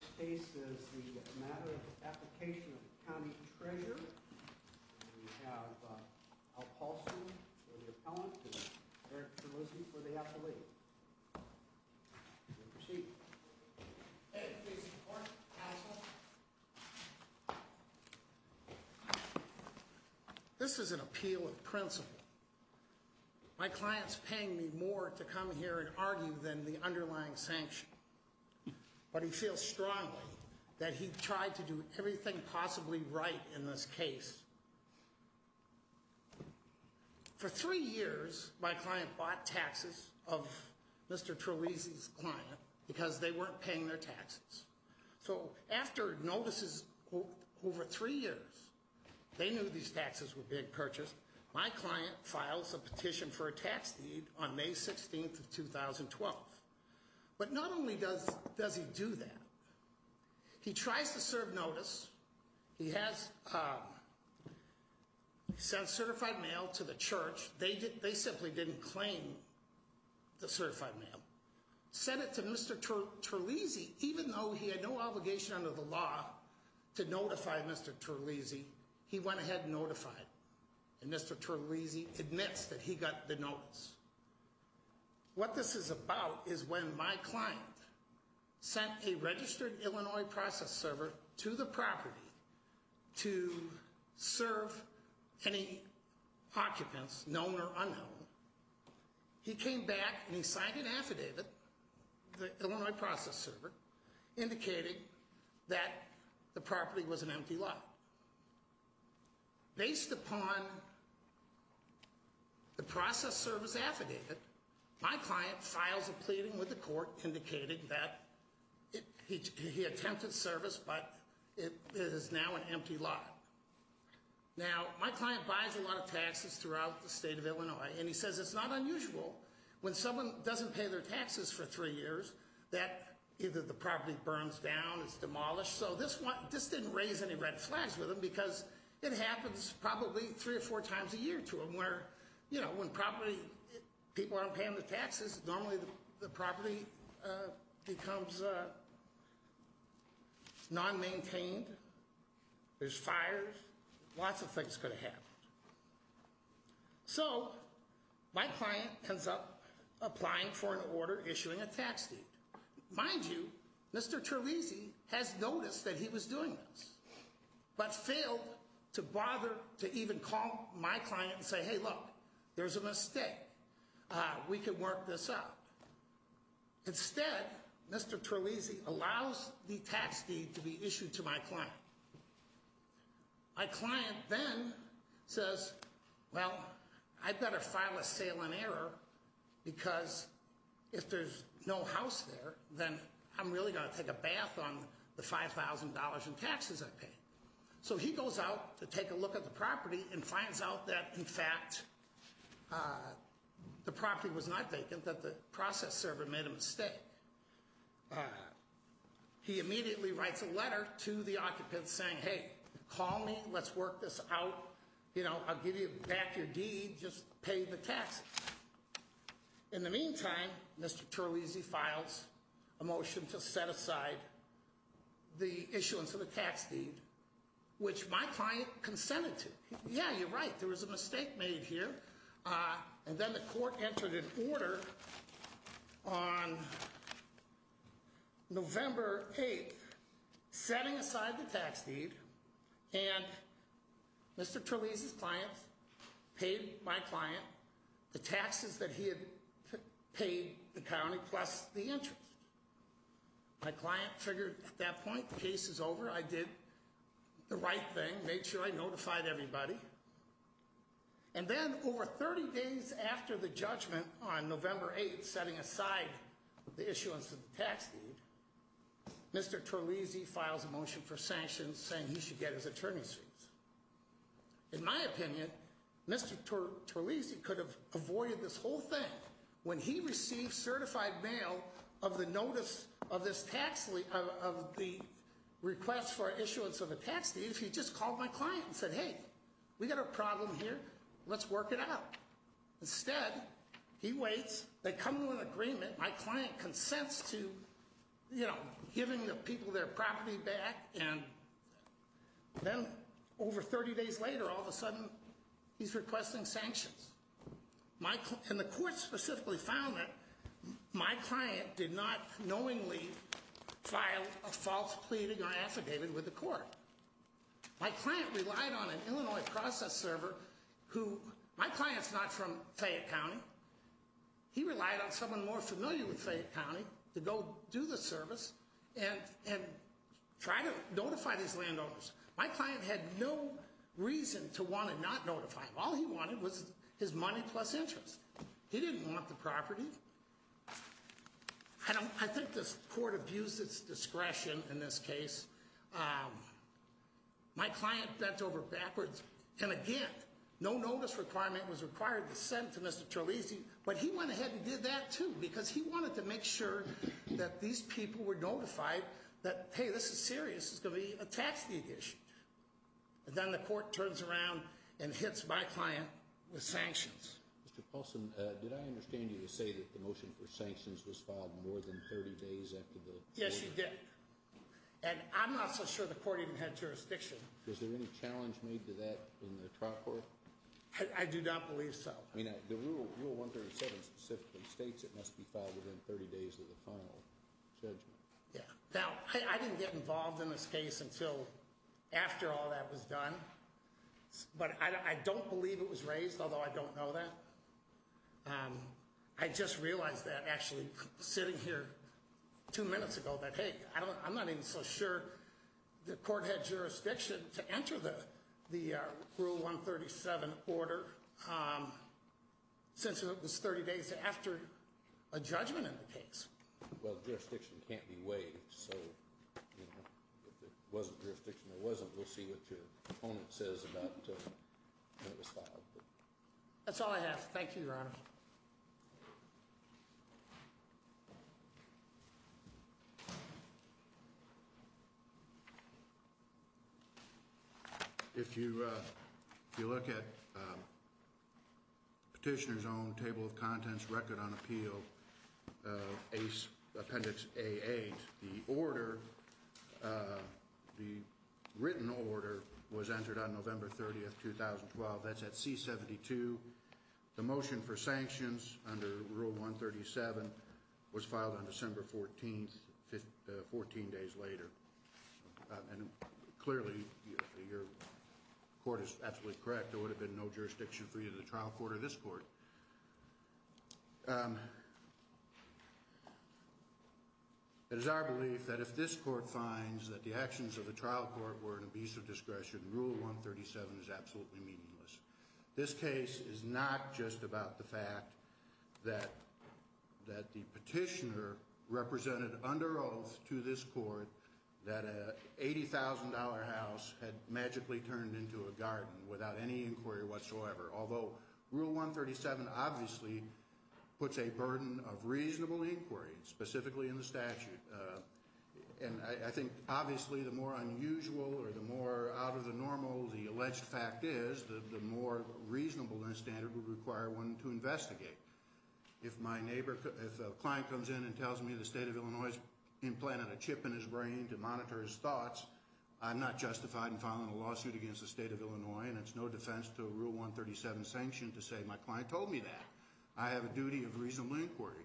This case is the Matter of Application of County Treasurer. We have Al Paulson for the appellant and Eric Terlizzi for the appellee. You may proceed. Hey, please report, counsel. This is an appeal of principle. My client's paying me more to come here and argue than the underlying sanction. But he feels strongly that he tried to do everything possibly right in this case. For three years, my client bought taxes of Mr. Terlizzi's client because they weren't paying their taxes. So after notices over three years, they knew these taxes were being purchased, my client files a petition for a tax deed on May 16th of 2012. But not only does he do that, he tries to serve notice. He has certified mail to the church. They simply didn't claim the certified mail. Sent it to Mr. Terlizzi, even though he had no obligation under the law to notify Mr. Terlizzi, he went ahead and notified. And Mr. Terlizzi admits that he got the notice. What this is about is when my client sent a registered Illinois process server to the property to serve any occupants, known or unknown, he came back and he signed an affidavit, the Illinois process server, indicating that the property was an empty lot. Based upon the process server's affidavit, my client files a pleading with the court indicating that he attempted service, but it is now an empty lot. Now, my client buys a lot of taxes throughout the state of Illinois, and he says it's not unusual when someone doesn't pay their taxes for three years that either the property burns down, it's demolished. So this didn't raise any red flags with him because it happens probably three or four times a year to him where, you know, when people aren't paying their taxes, normally the property becomes non-maintained, there's fires, lots of things could have happened. So my client ends up applying for an order issuing a tax deed. Mind you, Mr. Terlese has noticed that he was doing this, but failed to bother to even call my client and say, hey, look, there's a mistake, we can work this out. Instead, Mr. Terlese allows the tax deed to be issued to my client. My client then says, well, I'd better file a sale in error because if there's no house there, then I'm really going to take a bath on the $5,000 in taxes I paid. So he goes out to take a look at the property and finds out that, in fact, the property was not vacant, that the process server made a mistake. He immediately writes a letter to the occupant saying, hey, call me, let's work this out, I'll give you back your deed, just pay the taxes. In the meantime, Mr. Terlese files a motion to set aside the issuance of a tax deed, which my client consented to. Yeah, you're right, there was a mistake made here. And then the court entered an order on November 8th, setting aside the tax deed, and Mr. Terlese's client paid my client the taxes that he had paid the county plus the interest. My client figured at that point, the case is over, I did the right thing, made sure I notified everybody. And then over 30 days after the judgment on November 8th, setting aside the issuance of the tax deed, Mr. Terlese files a motion for sanctions saying he should get his attorney's fees. In my opinion, Mr. Terlese could have avoided this whole thing when he received certified mail of the notice of the request for issuance of a tax deed if he just called my client and said, hey, we got a problem here, let's work it out. Instead, he waits, they come to an agreement, my client consents to giving the people their property back, and then over 30 days later, all of a sudden, he's requesting sanctions. And the court specifically found that my client did not knowingly file a false pleading or affidavit with the court. My client relied on an Illinois process server who, my client's not from Fayette County, he relied on someone more familiar with Fayette County to go do the service and try to notify these landowners. My client had no reason to want to not notify them. All he wanted was his money plus interest. He didn't want the property. I think the court abused its discretion in this case. My client bent over backwards, and again, no notice requirement was required to send to Mr. Terlese, but he went ahead and did that too because he wanted to make sure that these people were notified that, hey, this is serious, it's going to be a tax deed issue. And then the court turns around and hits my client with sanctions. Mr. Paulson, did I understand you to say that the motion for sanctions was filed more than 30 days after the hearing? Yes, you did. And I'm not so sure the court even had jurisdiction. Was there any challenge made to that in the trial court? I do not believe so. I mean, the Rule 137 specifically states it must be filed within 30 days of the final judgment. Yeah. Now, I didn't get involved in this case until after all that was done, but I don't believe it was raised, although I don't know that. I just realized that actually sitting here two minutes ago that, hey, I'm not even so sure the court had jurisdiction to enter the Rule 137 order since it was 30 days after a judgment in the case. Well, jurisdiction can't be weighed. So if there wasn't jurisdiction or wasn't, we'll see what your opponent says about when it was filed. That's all I have. Thank you, Your Honor. Thank you, Your Honor. If you look at Petitioner's Own Table of Contents Record on Appeal, Appendix A-8, the order, the written order was entered on November 30th, 2012. That's at C-72. The motion for sanctions under Rule 137 was filed on December 14th, 14 days later. And clearly, your court is absolutely correct. There would have been no jurisdiction for you to the trial court or this court. It is our belief that if this court finds that the actions of the trial court were an abuse of discretion, Rule 137 is absolutely meaningless. This case is not just about the fact that the petitioner represented under oath to this court that an $80,000 house had magically turned into a garden without any inquiry whatsoever, although Rule 137 obviously puts a burden of reasonable inquiry, specifically in the statute. And I think obviously the more unusual or the more out of the normal the alleged fact is, the more reasonable that standard would require one to investigate. If my neighbor, if a client comes in and tells me the State of Illinois has implanted a chip in his brain to monitor his thoughts, I'm not justified in filing a lawsuit against the State of Illinois, and it's no defense to a Rule 137 sanction to say my client told me that. I have a duty of reasonable inquiry.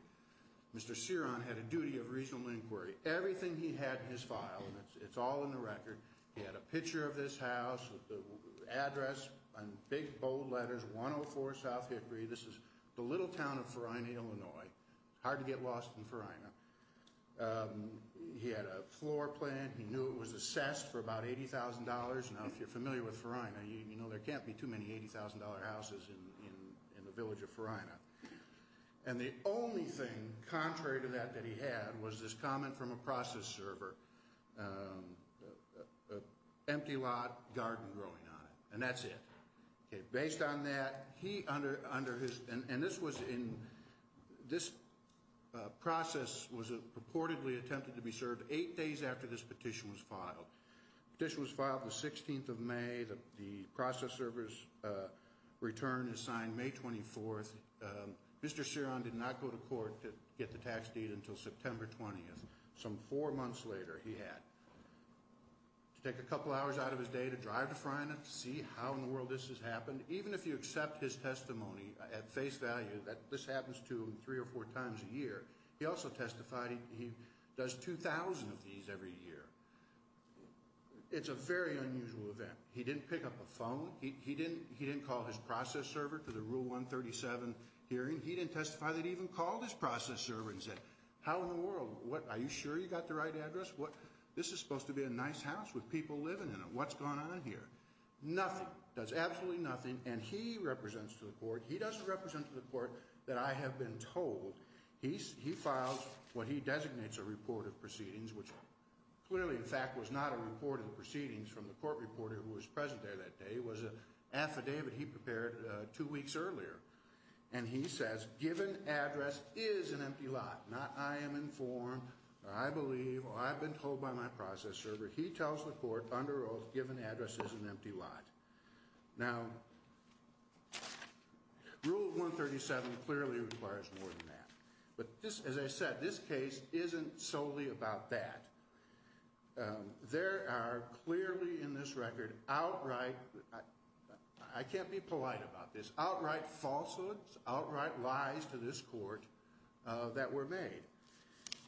Mr. Ceron had a duty of reasonable inquiry. Everything he had in his file, it's all in the record. He had a picture of this house with the address in big, bold letters, 104 South Hickory. This is the little town of Farina, Illinois. Hard to get lost in Farina. He had a floor plan. He knew it was assessed for about $80,000. Now, if you're familiar with Farina, you know there can't be too many $80,000 houses in the village of Farina. And the only thing contrary to that that he had was this comment from a process server, empty lot, garden growing on it, and that's it. Okay, based on that, he, under his, and this was in, this process was purportedly attempted to be served eight days after this petition was filed. Petition was filed the 16th of May. The process server's return is signed May 24th. Mr. Ceron did not go to court to get the tax deed until September 20th, some four months later he had. To take a couple hours out of his day to drive to Farina to see how in the world this has happened, even if you accept his testimony at face value that this happens to him three or four times a year, he also testified he does 2,000 of these every year. It's a very unusual event. He didn't pick up the phone. He didn't call his process server to the Rule 137 hearing. He didn't testify that he even called his process server and said, how in the world? Are you sure you got the right address? This is supposed to be a nice house with people living in it. What's going on here? Nothing. Does absolutely nothing. And he represents to the court. He doesn't represent to the court that I have been told. He files what he designates a report of proceedings, which clearly in fact was not a report of proceedings from the court reporter who was present there that day. It was an affidavit he prepared two weeks earlier. And he says, given address is an empty lot, not I am informed, I believe, or I've been told by my process server. He tells the court under oath given address is an empty lot. Now, Rule 137 clearly requires more than that. But this, as I said, this case isn't solely about that. There are clearly in this record outright, I can't be polite about this, outright falsehoods, outright lies to this court that were made.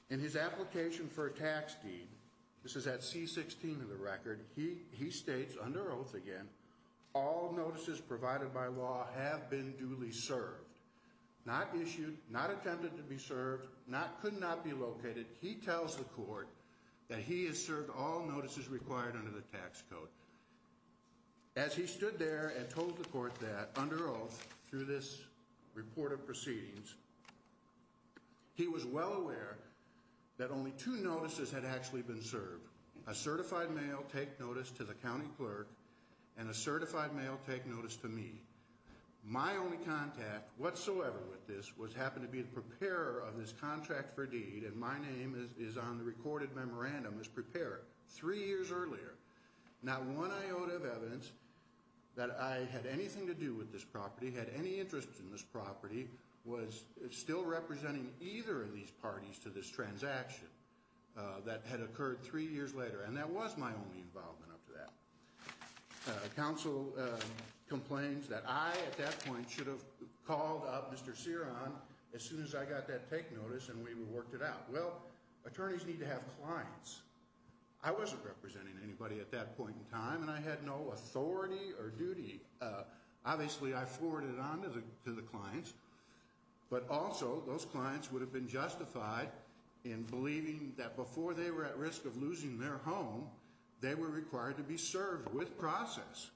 In his application for a tax deed, this is at C-16 in the record, he states under oath again, all notices provided by law have been duly served. Not issued, not intended to be served, could not be located. He tells the court that he has served all notices required under the tax code. As he stood there and told the court that under oath through this report of proceedings, he was well aware that only two notices had actually been served. A certified mail take notice to the county clerk and a certified mail take notice to me. My only contact whatsoever with this was happen to be the preparer of this contract for deed. And my name is on the recorded memorandum as preparer. Three years earlier, not one iota of evidence that I had anything to do with this property, had any interest in this property, was still representing either of these parties to this transaction that had occurred three years later. And that was my only involvement up to that. Council complains that I, at that point, should have called up Mr. Ceron as soon as I got that take notice and we worked it out. Well, attorneys need to have clients. I wasn't representing anybody at that point in time and I had no authority or duty. Obviously, I forwarded it on to the clients. But also, those clients would have been justified in believing that before they were at risk of losing their home, they were required to be served with process.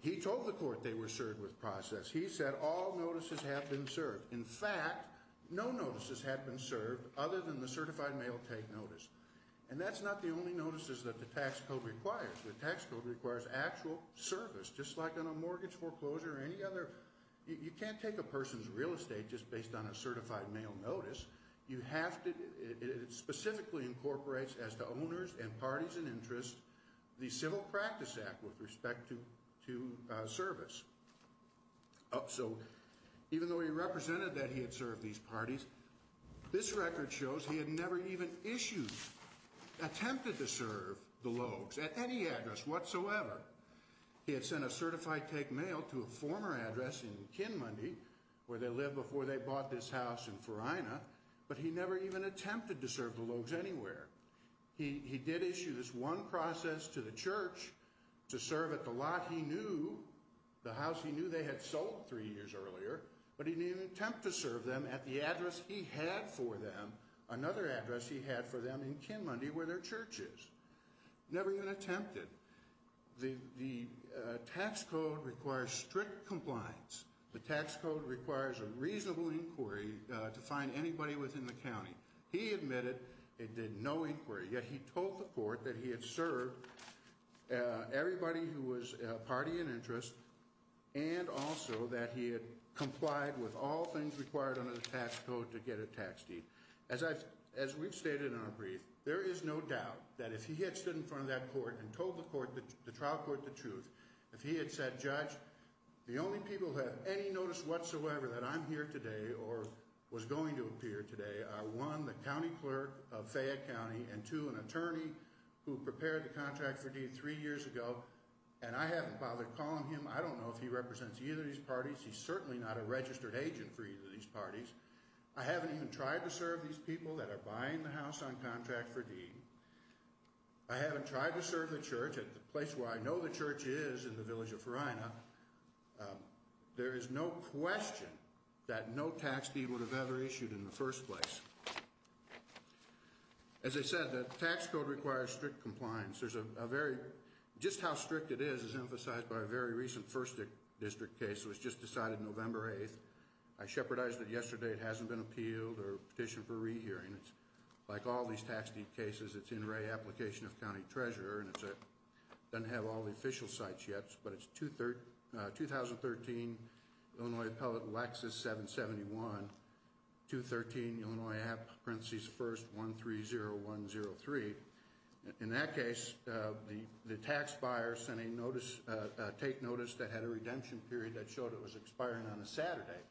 He told the court they were served with process. He said all notices have been served. In fact, no notices have been served other than the certified mail take notice. And that's not the only notices that the tax code requires. The tax code requires actual service, just like on a mortgage foreclosure or any other. You can't take a person's real estate just based on a certified mail notice. It specifically incorporates, as to owners and parties in interest, the Civil Practice Act with respect to service. So even though he represented that he had served these parties, this record shows he had never even issued, attempted to serve the Logues at any address whatsoever. He had sent a certified take mail to a former address in Kinmundy, where they lived before they bought this house in Farina, but he never even attempted to serve the Logues anywhere. He did issue this one process to the church to serve at the lot he knew, the house he knew they had sold three years earlier, but he didn't even attempt to serve them at the address he had for them, another address he had for them in Kinmundy, where their church is. Never even attempted. The tax code requires strict compliance. The tax code requires a reasonable inquiry to find anybody within the county. He admitted it did no inquiry, yet he told the court that he had served everybody who was a party in interest and also that he had complied with all things required under the tax code to get a tax deed. As we've stated in our brief, there is no doubt that if he had stood in front of that court and told the trial court the truth, if he had said, Judge, the only people who have any notice whatsoever that I'm here today or was going to appear today are one, the county clerk of Fayette County, and two, an attorney who prepared the contract for deed three years ago, and I haven't bothered calling him. I don't know if he represents either of these parties. He's certainly not a registered agent for either of these parties. I haven't even tried to serve these people that are buying the house on contract for deed. I haven't tried to serve the church at the place where I know the church is in the village of Farina. There is no question that no tax deed would have ever issued in the first place. As I said, the tax code requires strict compliance. Just how strict it is is emphasized by a very recent first district case that was just decided November 8th. I shepherdized it yesterday. It hasn't been appealed or petitioned for re-hearing. Like all these tax deed cases, it's in re-application of county treasurer. It doesn't have all the official sites yet, but it's 2013, Illinois Appellate Lexus 771, 213, Illinois App, parenthesis first, 130103. In that case, the tax buyer sent a take notice that had a redemption period that showed it was expiring on a Saturday,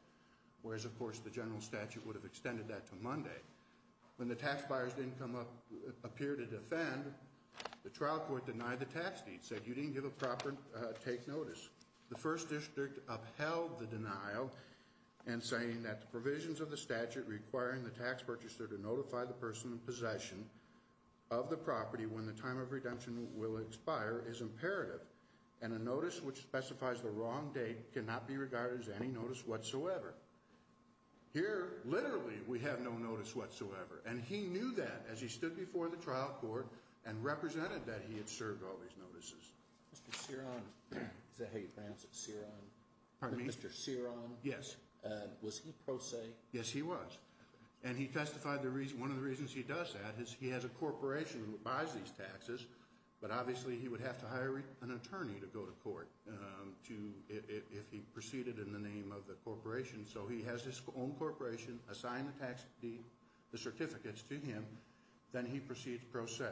whereas, of course, the general statute would have extended that to Monday. When the tax buyers didn't appear to defend, the trial court denied the tax deed, said you didn't give a proper take notice. The first district upheld the denial in saying that the provisions of the statute requiring the tax purchaser to notify the person in possession of the property when the time of redemption will expire is imperative, and a notice which specifies the wrong date cannot be regarded as any notice whatsoever. Here, literally, we have no notice whatsoever, and he knew that as he stood before the trial court and represented that he had served all these notices. Mr. Ceron, is that how you pronounce it? Ceron? Pardon me? Mr. Ceron? Yes. Was he pro se? Yes, he was. And he testified the reason, one of the reasons he does that is he has a corporation who buys these taxes, but obviously he would have to hire an attorney to go to court if he proceeded in the name of the corporation. So he has his own corporation assign the tax certificates to him, then he proceeds pro se.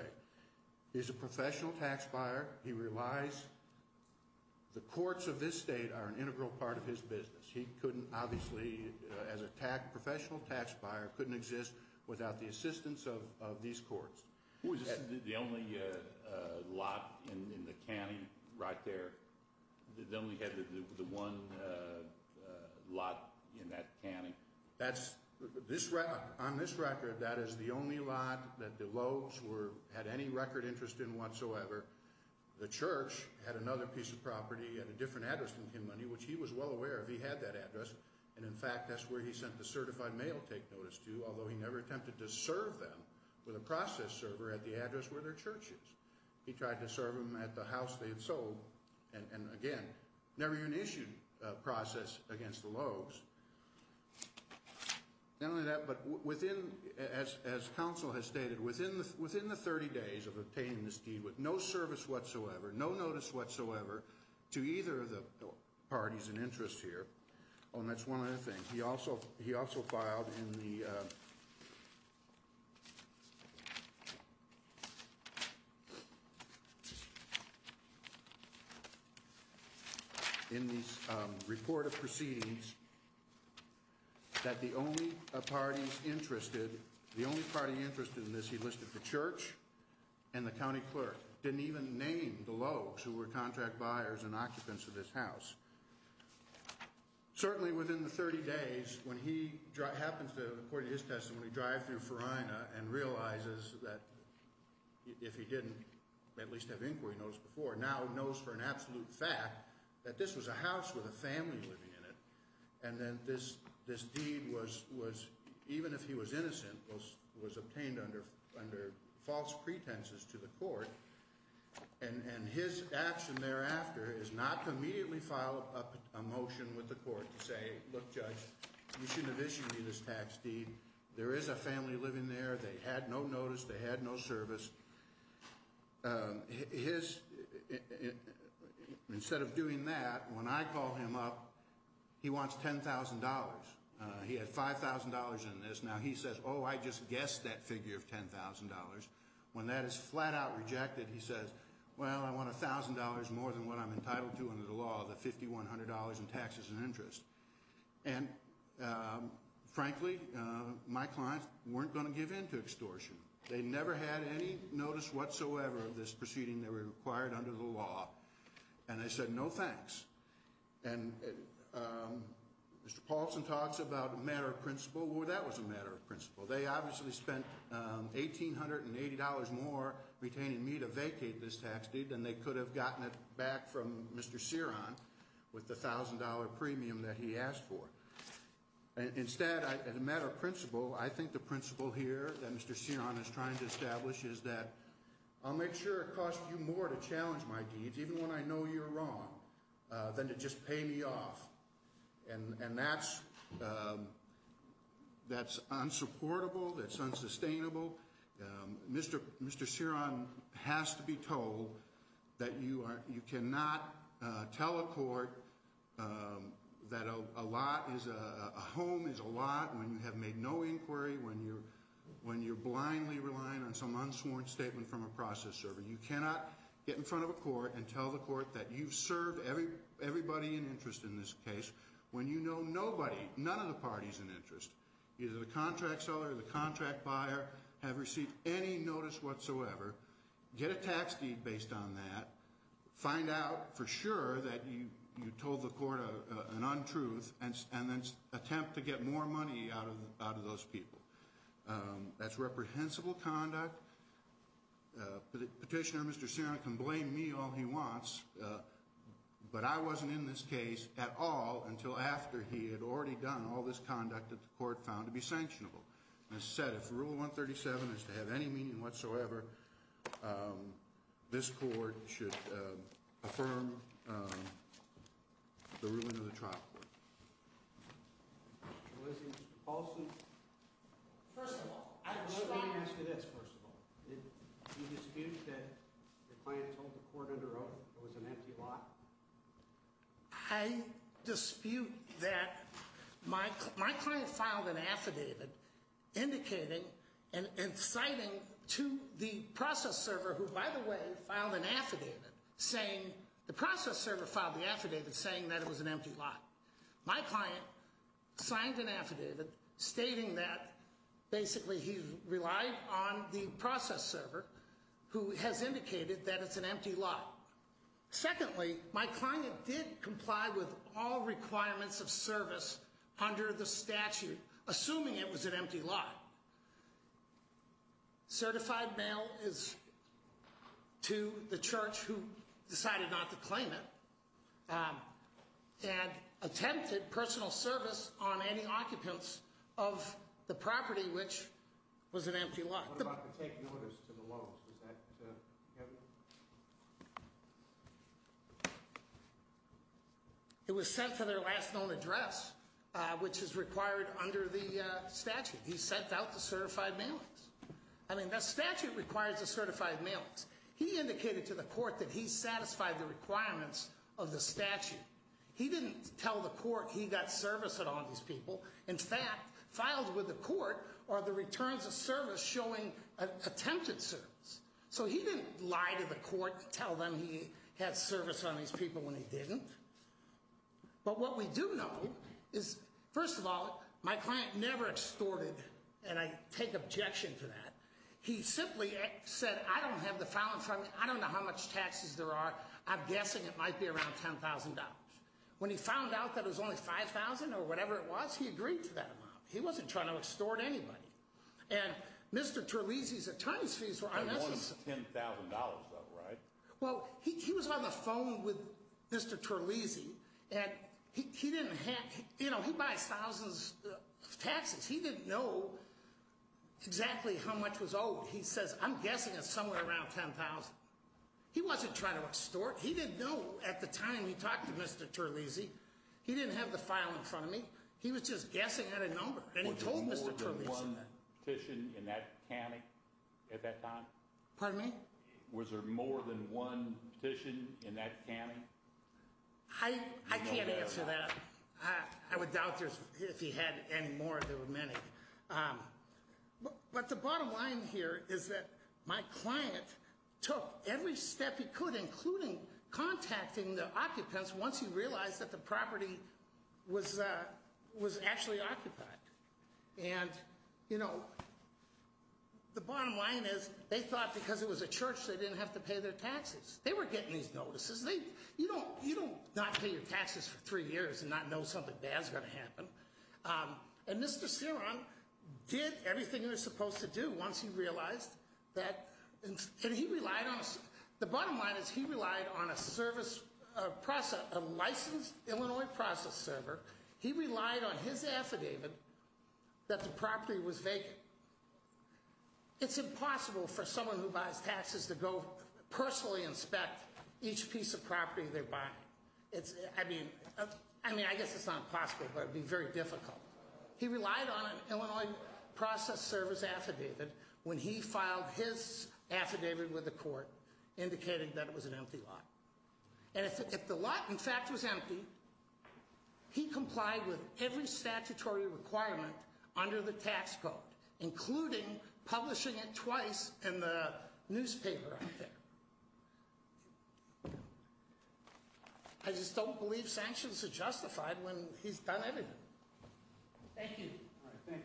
He's a professional tax buyer. He relies, the courts of this state are an integral part of his business. He couldn't obviously, as a professional tax buyer, couldn't exist without the assistance of these courts. Was this the only lot in the county right there? They only had the one lot in that county? That's, on this record, that is the only lot that the Lopes had any record interest in whatsoever. The church had another piece of property at a different address than Kim Money, which he was well aware of. He had that address, and in fact, that's where he sent the certified mail take notice to, although he never attempted to serve them with a process server at the address where their church is. He tried to serve them at the house they had sold, and again, never even issued a process against the Lopes. Not only that, but within, as counsel has stated, within the 30 days of obtaining this deed, with no service whatsoever, no notice whatsoever to either of the parties in interest here, and that's one other thing. He also filed in the report of proceedings that the only parties interested, the only party interested in this he listed the church and the county clerk. Didn't even name the Lopes who were contract buyers and occupants of this house. Certainly within the 30 days, when he happens to, according to his testimony, drive through Farina and realizes that if he didn't at least have inquiry notice before, now knows for an absolute fact that this was a house with a family living in it, and then this deed was, even if he was innocent, was obtained under false pretenses to the court, and his action thereafter is not to immediately file a motion with the court to say, look, judge, you shouldn't have issued me this tax deed. There is a family living there. They had no notice. They had no service. Instead of doing that, when I call him up, he wants $10,000. He had $5,000 in this. Now he says, oh, I just guessed that figure of $10,000. When that is flat out rejected, he says, well, I want $1,000 more than what I'm entitled to under the law, the $5,100 in taxes and interest. And frankly, my clients weren't going to give in to extortion. They never had any notice whatsoever of this proceeding that were required under the law. And I said, no thanks. And Mr. Paulson talks about a matter of principle. Well, that was a matter of principle. They obviously spent $1,880 more retaining me to vacate this tax deed than they could have gotten it back from Mr. Ceron with the $1,000 premium that he asked for. Instead, as a matter of principle, I think the principle here that Mr. Ceron is trying to establish is that I'll make sure it costs you more to challenge my deeds, even when I know you're wrong, than to just pay me off. And that's unsupportable. That's unsustainable. Mr. Ceron has to be told that you cannot tell a court that a home is a lot when you have made no inquiry, when you're blindly relying on some unsworn statement from a process server. You cannot get in front of a court and tell the court that you've served everybody in interest in this case when you know nobody, none of the party's in interest. Either the contract seller or the contract buyer have received any notice whatsoever. Get a tax deed based on that. Find out for sure that you told the court an untruth, and then attempt to get more money out of those people. That's reprehensible conduct. Petitioner Mr. Ceron can blame me all he wants, but I wasn't in this case at all until after he had already done all this conduct that the court found to be sanctionable. As I said, if Rule 137 is to have any meaning whatsoever, this court should affirm the ruling of the trial court. Mr. Paulson. First of all. Let me ask you this, first of all. Do you dispute that your client told the court under oath it was an empty lot? I dispute that my client filed an affidavit indicating and citing to the process server, who by the way filed an affidavit saying, the process server filed the affidavit saying that it was an empty lot. My client signed an affidavit stating that basically he relied on the process server who has indicated that it's an empty lot. Secondly, my client did comply with all requirements of service under the statute, assuming it was an empty lot. Certified mail is to the church who decided not to claim it. And attempted personal service on any occupants of the property, which was an empty lot. What about the taking orders to the loans? It was sent to their last known address, which is required under the statute. He sent out the certified mailings. I mean, the statute requires the certified mailings. He indicated to the court that he satisfied the requirements of the statute. He didn't tell the court he got service on all these people. In fact, filed with the court are the returns of service showing attempted service. So he didn't lie to the court and tell them he had service on these people when he didn't. But what we do know is, first of all, my client never extorted, and I take objection to that. He simply said, I don't know how much taxes there are. I'm guessing it might be around $10,000. When he found out that it was only $5,000 or whatever it was, he agreed to that amount. He wasn't trying to extort anybody. And Mr. Terlesi's attorney's fees were on this. $10,000 though, right? Well, he was on the phone with Mr. Terlesi. And he didn't have, you know, he buys thousands of taxes. He didn't know exactly how much was owed. He says, I'm guessing it's somewhere around $10,000. He wasn't trying to extort. He didn't know at the time he talked to Mr. Terlesi. He didn't have the file in front of me. He was just guessing at a number. And he told Mr. Terlesi that. Was there more than one petition in that county at that time? Pardon me? Was there more than one petition in that county? I can't answer that. I would doubt if he had any more. There were many. But the bottom line here is that my client took every step he could, including contacting the occupants, once he realized that the property was actually occupied. And, you know, the bottom line is they thought because it was a church they didn't have to pay their taxes. They were getting these notices. You don't not pay your taxes for three years and not know something bad is going to happen. And Mr. Ceron did everything he was supposed to do once he realized that. And he relied on us. The bottom line is he relied on a service process, a licensed Illinois process server. He relied on his affidavit that the property was vacant. It's impossible for someone who buys taxes to go personally inspect each piece of property they're buying. I mean, I guess it's not impossible, but it would be very difficult. He relied on an Illinois process service affidavit when he filed his affidavit with the court, indicating that it was an empty lot. And if the lot, in fact, was empty, he complied with every statutory requirement under the tax code, including publishing it twice in the newspaper, I think. I just don't believe sanctions are justified when he's done everything. Thank you. Thank you, counsel.